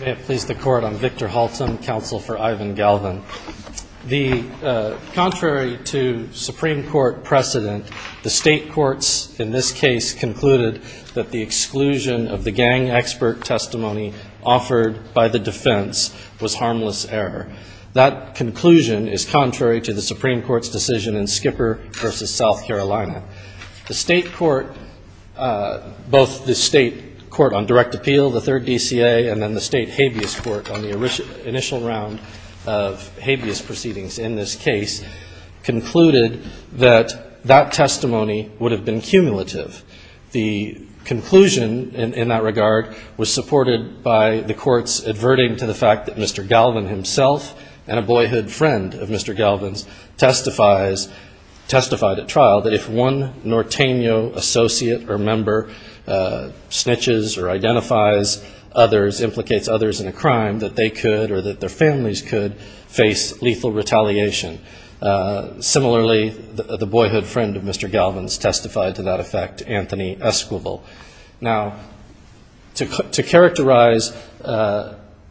May it please the Court, I'm Victor Halton, counsel for Ivan Galvan. Contrary to Supreme Court precedent, the state courts in this case concluded that the exclusion of the gang expert testimony offered by the defense was harmless error. That conclusion is contrary to the Supreme Court's decision in Skipper v. South Carolina. The state court, both the state court on direct appeal, the third DCA, and then the state habeas court on the initial round of habeas proceedings in this case, concluded that that testimony would have been cumulative. The conclusion in that regard was supported by the courts adverting to the fact that Mr. Galvan himself and a boyhood friend of Mr. Galvan's testified at trial that if one Norteno associate or member snitches or identifies others, implicates others in a crime, that they could or that their families could face lethal retaliation. Similarly, the boyhood friend of Mr. Galvan's testified to that effect, Anthony Esquivel. Now, to characterize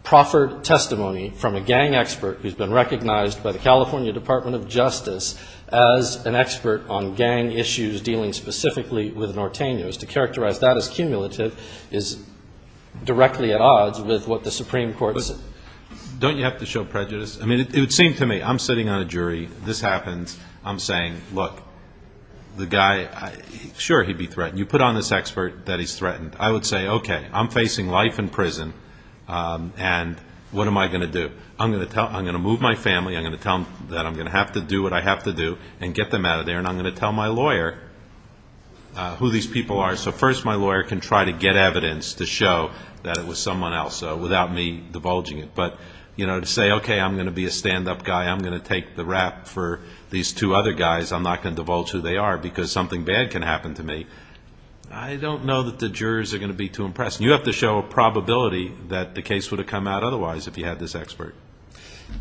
proffered testimony from a gang expert who's been recognized by the California Department of Justice as an expert on gang issues dealing specifically with Nortenos, to characterize that as cumulative is directly at odds with what the Supreme Court said. Don't you have to show prejudice? I mean, it would seem to me, I'm sitting on a jury. This happens. I'm saying, look, the guy, sure, he'd be threatened. You put on this expert that he's threatened. I would say, okay, I'm facing life in prison, and what am I going to do? I'm going to move my family. I'm going to tell them that I'm going to have to do what I have to do and get them out of there, and I'm going to tell my lawyer who these people are. So first, my lawyer can try to get evidence to show that it was someone else without me divulging it. But to say, okay, I'm going to be a stand-up guy. I'm going to take the rap for these two other guys. I'm not going to divulge who they are because something bad can happen to me. I don't know that the jurors are going to be too impressed. You have to show a probability that the case would have come out otherwise if you had this expert.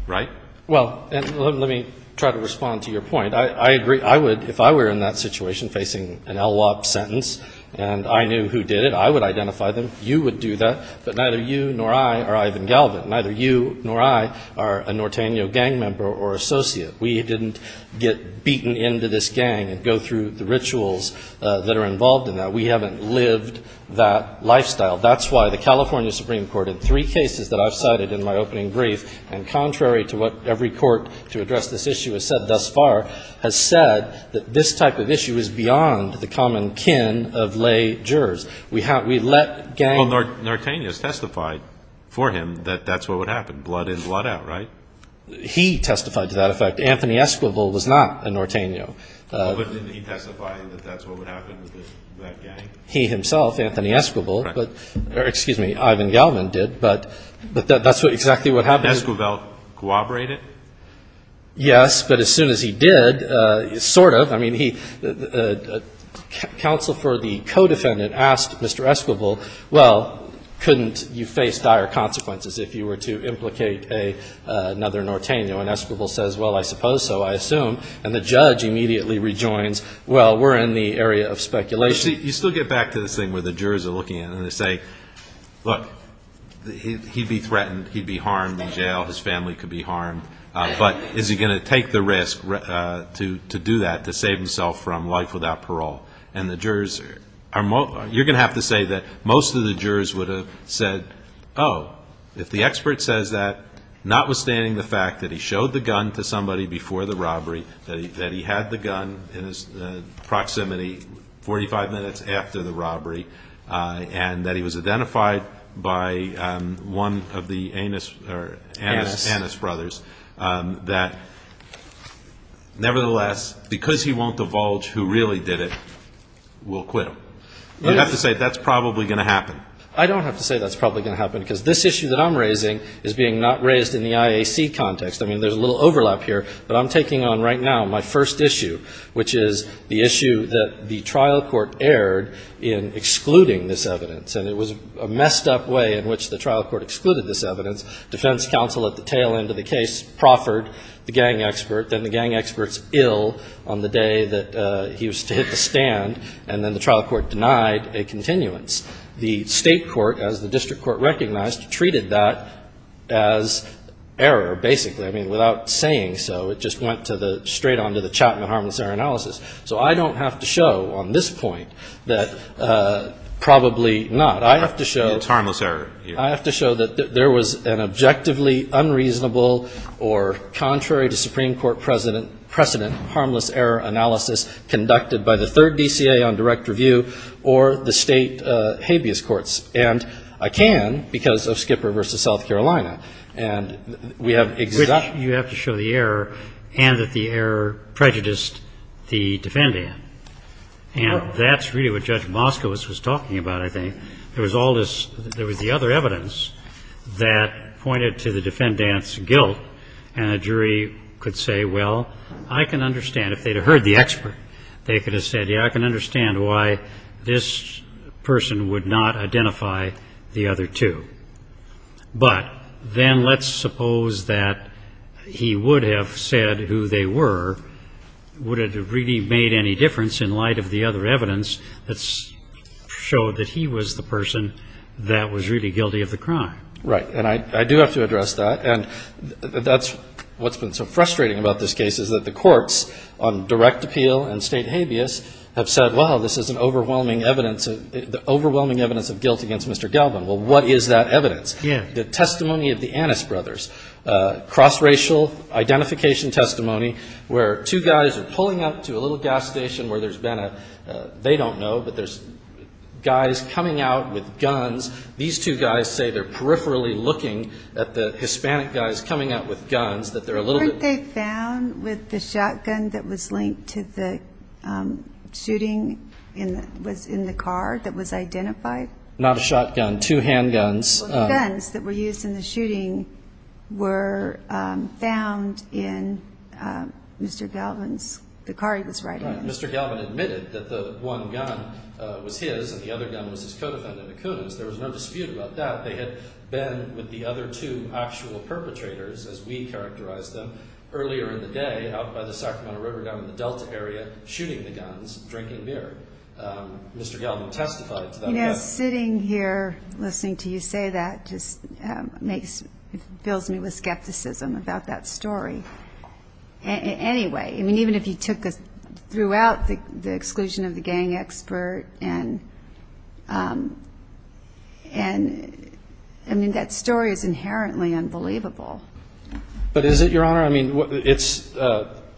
Right? Well, let me try to respond to your point. I agree. I would, if I were in that situation facing an LWOP sentence, and I knew who did it, I would identify them. You would do that. But neither you nor I are Ivan Galvin. Neither you nor I are a Norteno gang member or associate. We didn't get beaten into this gang and go through the rituals that are involved in that. We haven't lived that lifestyle. That's why the California Supreme Court, in three cases that I've cited in my opening brief, and contrary to what every court to address this issue has said thus far, has said that this type of issue is beyond the common kin of lay jurors. We let gang members. Well, Norteno has testified for him that that's what would happen, blood in, blood out, right? He testified to that effect. Anthony Esquivel was not a Norteno. Well, but didn't he testify that that's what would happen to that gang? He himself, Anthony Esquivel. Correct. Excuse me, Ivan Galvin did. But that's exactly what happened. Did Esquivel corroborate it? Yes, but as soon as he did, sort of. I mean, the counsel for the co-defendant asked Mr. Esquivel, well, couldn't you face dire consequences if you were to implicate another Norteno? And Esquivel says, well, I suppose so, I assume. And the judge immediately rejoins, well, we're in the area of speculation. You still get back to this thing where the jurors are looking at it and they say, look, he'd be threatened, he'd be harmed in jail, his family could be harmed, but is he going to take the risk to do that, to save himself from life without parole? And the jurors are more, you're going to have to say that most of the jurors would have said, oh, if the expert says that, notwithstanding the fact that he showed the gun to somebody before the robbery, that he had the gun in his proximity 45 minutes after the robbery, and that he was identified by one of the Anas brothers, that nevertheless, because he won't divulge who really did it, will quit. You have to say that's probably going to happen. I don't have to say that's probably going to happen, because this issue that I'm raising is being not raised in the IAC context. I mean, there's a little overlap here, but I'm taking on right now my first issue, which is the issue that the trial court erred in excluding this evidence, and it was a messed up way in which the trial court excluded this evidence. Defense counsel at the tail end of the case proffered the gang expert, then the gang expert's ill on the day that he was to hit the stand, and then the trial court denied a continuance. The state court, as the district court recognized, treated that as error, basically. I mean, without saying so, it just went straight on to the Chapman harmless error analysis. So I don't have to show on this point that probably not. I have to show that there was an error. There was an objectively unreasonable or contrary to Supreme Court precedent harmless error analysis conducted by the third DCA on direct review or the state habeas courts. And I can because of Skipper v. South Carolina. And we have exact ---- Which you have to show the error and that the error prejudiced the defendant. And that's really what Judge Moskowitz was talking about, I think. There was the other evidence that pointed to the defendant's guilt. And a jury could say, well, I can understand, if they'd have heard the expert, they could have said, yeah, I can understand why this person would not identify the other two. But then let's suppose that he would have said who they were, would it have really made any difference in light of the other evidence that showed that he was the person that was really guilty of the crime? Right. And I do have to address that. And that's what's been so frustrating about this case, is that the courts on direct appeal and state habeas have said, well, this is an overwhelming evidence of guilt against Mr. Galban. Well, what is that evidence? The testimony of the Annis brothers, cross-racial identification testimony, where two guys are pulling up to a little gas station where there's been a, they don't know, but there's guys coming out with guns. These two guys say they're peripherally looking at the Hispanic guys coming out with guns, that they're a little bit. Weren't they found with the shotgun that was linked to the shooting in the car that was identified? Not a shotgun, two handguns. The guns that were used in the shooting were found in Mr. Galban's, the car he was riding in. Right. Mr. Galban admitted that the one gun was his and the other gun was his co-defendant Acuna's. There was no dispute about that. They had been with the other two actual perpetrators, as we characterized them, earlier in the day out by the Sacramento River down in the Delta area, shooting the guns, drinking beer. Mr. Galban testified to that. You know, sitting here listening to you say that just fills me with skepticism about that story. Anyway, I mean, even if you took us throughout the exclusion of the gang expert and, I mean, that story is inherently unbelievable. But is it, Your Honor? I mean, it's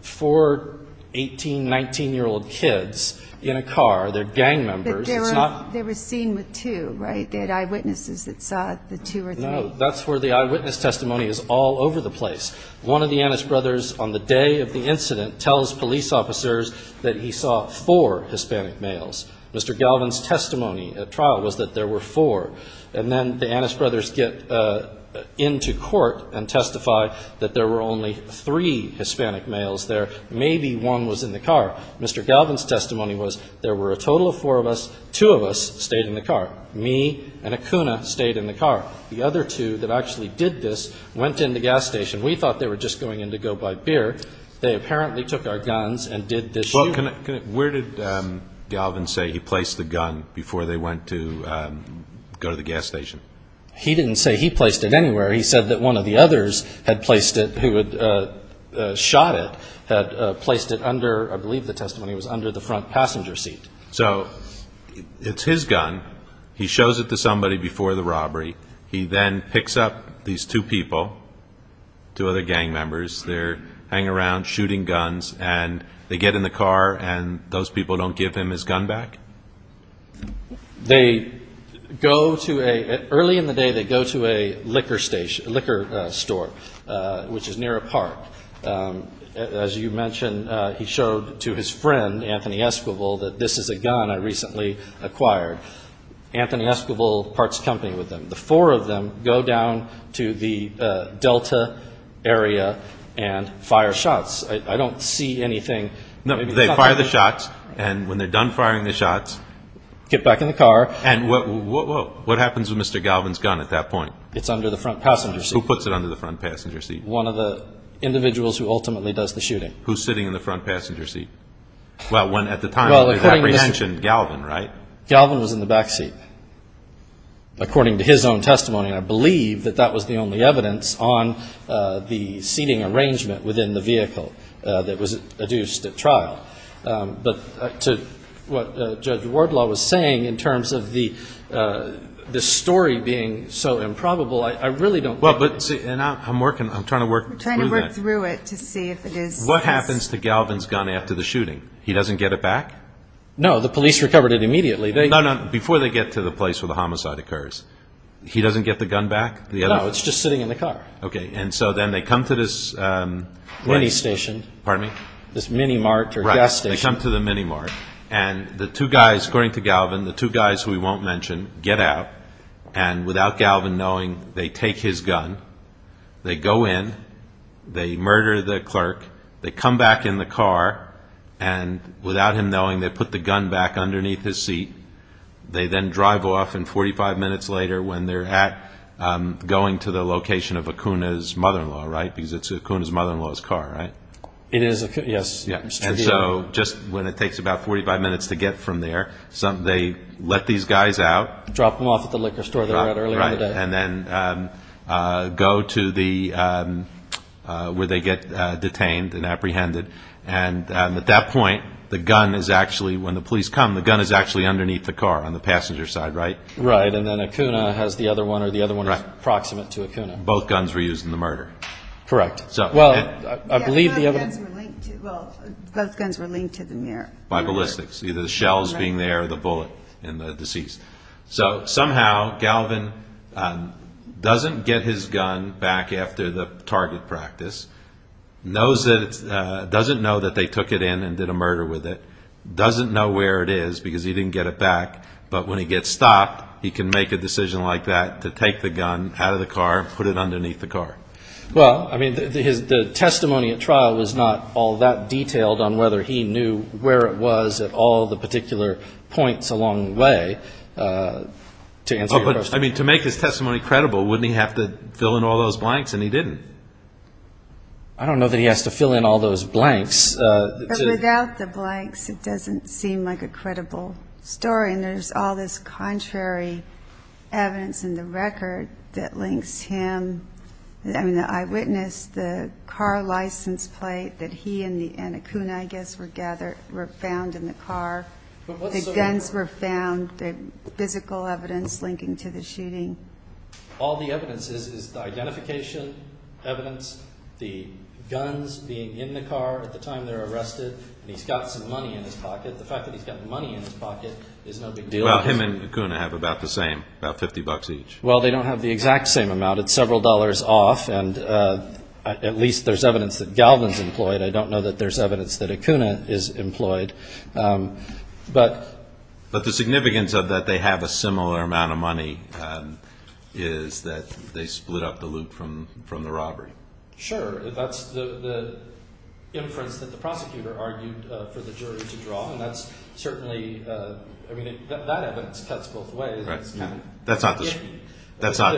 four 18-, 19-year-old kids in a car. They're gang members. They were seen with two, right? They had eyewitnesses that saw the two or three. No. That's where the eyewitness testimony is all over the place. One of the Annis brothers on the day of the incident tells police officers that he saw four Hispanic males. Mr. Galban's testimony at trial was that there were four. And then the Annis brothers get into court and testify that there were only three Hispanic males there. Maybe one was in the car. Mr. Galban's testimony was there were a total of four of us. Two of us stayed in the car. Me and Akuna stayed in the car. The other two that actually did this went in the gas station. We thought they were just going in to go buy beer. They apparently took our guns and did this shooting. Well, where did Galban say he placed the gun before they went to go to the gas station? He didn't say he placed it anywhere. He said that one of the others had placed it, who had shot it, had placed it under, I believe the testimony was, under the front passenger seat. So it's his gun. He shows it to somebody before the robbery. He then picks up these two people, two other gang members. They're hanging around shooting guns, and they get in the car, and those people don't give him his gun back? They go to a ‑‑ early in the day they go to a liquor store, which is near a park. As you mentioned, he showed to his friend, Anthony Esquivel, that this is a gun I recently acquired. Anthony Esquivel parts company with them. The four of them go down to the Delta area and fire shots. I don't see anything. No, they fire the shots, and when they're done firing the shots. Get back in the car. And what happens with Mr. Galban's gun at that point? It's under the front passenger seat. Who puts it under the front passenger seat? One of the individuals who ultimately does the shooting. Who's sitting in the front passenger seat? Well, at the time, it was apprehension, Galban, right? Galban was in the back seat, according to his own testimony, and I believe that that was the only evidence on the seating arrangement within the vehicle that was adduced at trial. But to what Judge Wardlaw was saying in terms of the story being so improbable, I really don't know. I'm trying to work through that. We're trying to work through it to see if it is. What happens to Galban's gun after the shooting? He doesn't get it back? No, the police recovered it immediately. No, no, before they get to the place where the homicide occurs. He doesn't get the gun back? No, it's just sitting in the car. Okay, and so then they come to this place. Mini station. Pardon me? This mini mart or gas station. Right, they come to the mini mart. And the two guys, according to Galban, the two guys who we won't mention, get out. And without Galban knowing, they take his gun. They go in. They murder the clerk. They come back in the car. And without him knowing, they put the gun back underneath his seat. They then drive off, and 45 minutes later, when they're going to the location of Acuna's mother-in-law, right? Because it's Acuna's mother-in-law's car, right? It is, yes. And so just when it takes about 45 minutes to get from there, they let these guys out. Drop them off at the liquor store they were at earlier in the day. And then go to where they get detained and apprehended. And at that point, the gun is actually, when the police come, the gun is actually underneath the car on the passenger side, right? Right. And then Acuna has the other one, or the other one is proximate to Acuna. Both guns were used in the murder. Correct. Well, I believe the other one. Well, both guns were linked to the mirror. By ballistics, either the shells being there or the bullet in the deceased. So somehow, Galvin doesn't get his gun back after the target practice. Doesn't know that they took it in and did a murder with it. Doesn't know where it is because he didn't get it back. But when he gets stopped, he can make a decision like that to take the gun out of the car and put it underneath the car. Well, I mean, the testimony at trial was not all that detailed on whether he knew where it was at all the particular points along the way. To answer your question. I mean, to make his testimony credible, wouldn't he have to fill in all those blanks? And he didn't. I don't know that he has to fill in all those blanks. Without the blanks, it doesn't seem like a credible story. And there's all this contrary evidence in the record that links him. I mean, the eyewitness, the car license plate that he and Acuna, I guess, were found in the car. The guns were found, the physical evidence linking to the shooting. All the evidence is the identification evidence, the guns being in the car at the time they were arrested, and he's got some money in his pocket. The fact that he's got money in his pocket is no big deal. Well, him and Acuna have about the same, about $50 each. Well, they don't have the exact same amount. It's several dollars off, and at least there's evidence that Galvin's employed. I don't know that there's evidence that Acuna is employed. But the significance of that they have a similar amount of money is that they split up the loot from the robbery. Sure. That's the inference that the prosecutor argued for the jury to draw, and that's certainly, I mean, that evidence cuts both ways. That's not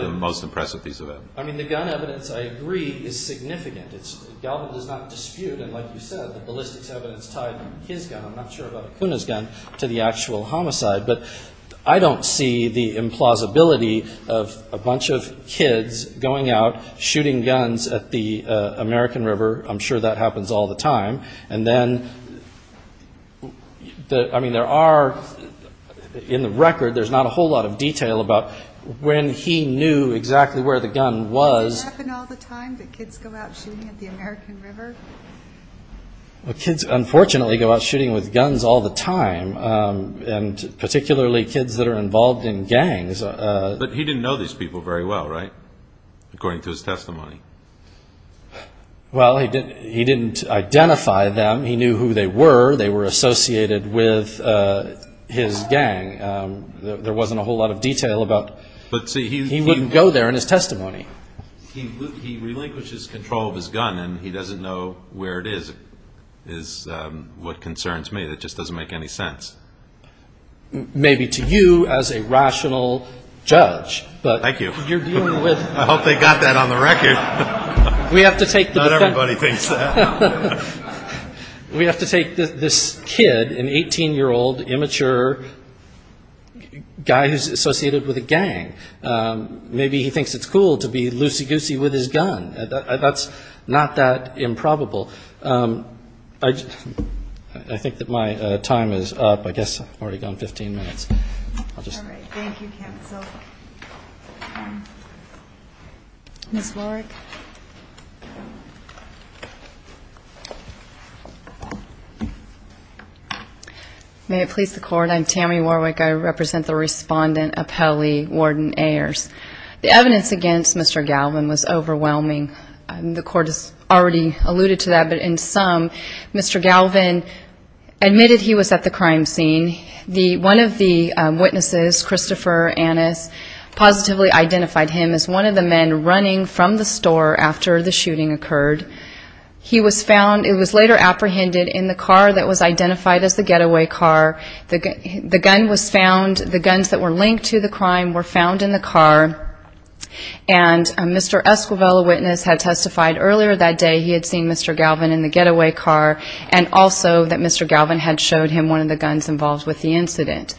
the most impressive piece of evidence. I mean, the gun evidence, I agree, is significant. Galvin does not dispute, and like you said, the ballistics evidence tied his gun, I'm not sure about Acuna's gun, to the actual homicide. But I don't see the implausibility of a bunch of kids going out shooting guns at the American River. I'm sure that happens all the time. And then, I mean, there are, in the record, there's not a whole lot of detail about when he knew exactly where the gun was. Does it happen all the time that kids go out shooting at the American River? Well, kids, unfortunately, go out shooting with guns all the time, and particularly kids that are involved in gangs. But he didn't know these people very well, right, according to his testimony? Well, he didn't identify them. He knew who they were. They were associated with his gang. There wasn't a whole lot of detail about. He wouldn't go there in his testimony. He relinquishes control of his gun, and he doesn't know where it is, is what concerns me. That just doesn't make any sense. Maybe to you as a rational judge. Thank you. I hope they got that on the record. Not everybody thinks that. We have to take this kid, an 18-year-old, immature guy who's associated with a gang. Maybe he thinks it's cool to be loosey-goosey with his gun. That's not that improbable. I think that my time is up. I guess I've already gone 15 minutes. All right. Thank you, Ken. Ms. Warwick. May it please the Court, I'm Tammy Warwick. I represent the Respondent Appelli, Warden Ayers. The evidence against Mr. Galvin was overwhelming. The Court has already alluded to that. But in sum, Mr. Galvin admitted he was at the crime scene. One of the witnesses, Christopher Annis, positively identified him as one of the men running from the store after the shooting occurred. He was found. It was later apprehended in the car that was identified as the getaway car. The gun was found. The guns that were linked to the crime were found in the car. And Mr. Esquivel, a witness, had testified earlier that day he had seen Mr. Galvin in the getaway car and also that Mr. Galvin had showed him one of the guns involved with the incident.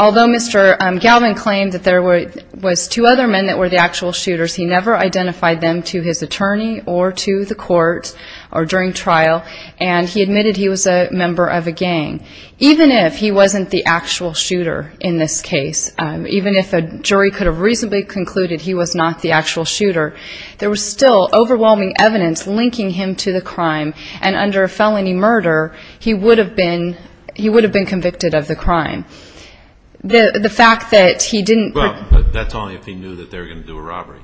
Although Mr. Galvin claimed that there was two other men that were the actual shooters, he never identified them to his attorney or to the court or during trial, and he admitted he was a member of a gang. Even if he wasn't the actual shooter in this case, even if a jury could have reasonably concluded he was not the actual shooter, there was still overwhelming evidence linking him to the crime, and under a felony murder, he would have been convicted of the crime. The fact that he didn't ---- Well, that's only if he knew that they were going to do a robbery.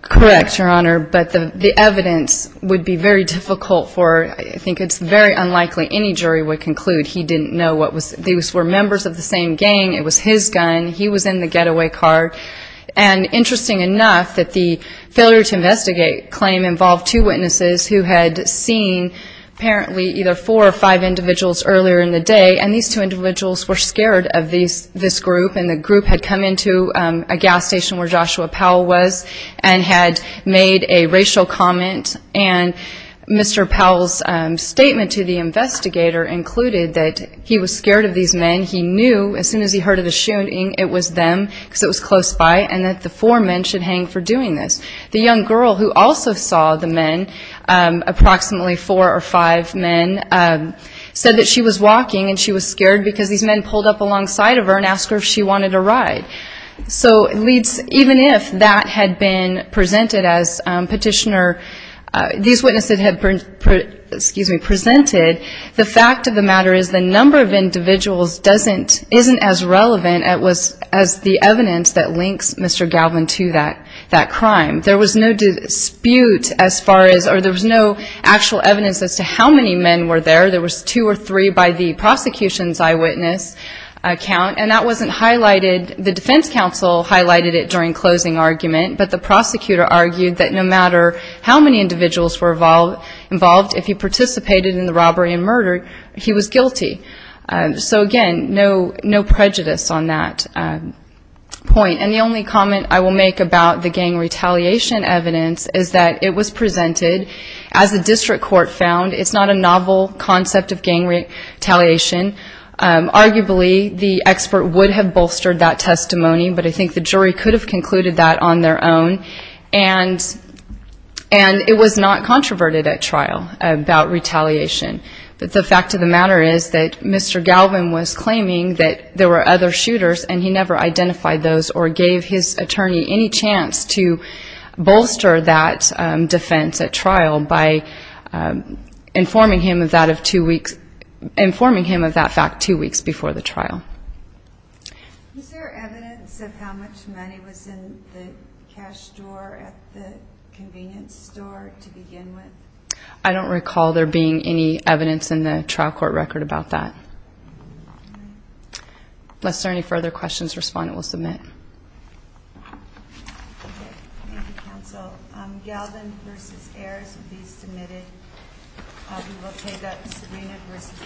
Correct, Your Honor, but the evidence would be very difficult for ---- I think it's very unlikely any jury would conclude he didn't know what was ---- These were members of the same gang. It was his gun. He was in the getaway car. And interesting enough that the failure to investigate claim involved two witnesses who had seen apparently either four or five individuals earlier in the day, and these two individuals were scared of this group, and the group had come into a gas station where Joshua Powell was and had made a racial comment, and Mr. Powell's statement to the investigator included that he was scared of these men. He knew as soon as he heard of the shooting it was them because it was close by and that the four men should hang for doing this. The young girl who also saw the men, approximately four or five men, said that she was walking and she was scared because these men pulled up alongside of her and asked her if she wanted a ride. So even if that had been presented as petitioner ---- these witnesses had presented, the fact of the matter is the number of individuals isn't as relevant as the evidence that links Mr. Galvin to that crime. There was no dispute as far as or there was no actual evidence as to how many men were there. There was two or three by the prosecution's eyewitness account, and that wasn't highlighted. The defense counsel highlighted it during closing argument, but the prosecutor argued that no matter how many individuals were involved, if he participated in the robbery and murder, he was guilty. So again, no prejudice on that point. And the only comment I will make about the gang retaliation evidence is that it was presented. As the district court found, it's not a novel concept of gang retaliation. Arguably, the expert would have bolstered that testimony, but I think the jury could have concluded that on their own. And it was not controverted at trial about retaliation. But the fact of the matter is that Mr. Galvin was claiming that there were other shooters, and he never identified those or gave his attorney any chance to bolster that defense at trial by informing him of that fact two weeks before the trial. Is there evidence of how much money was in the cash drawer at the convenience store to begin with? I don't recall there being any evidence in the trial court record about that. Unless there are any further questions, respondent will submit. Okay. Thank you, counsel. We will take a subpoena versus mock.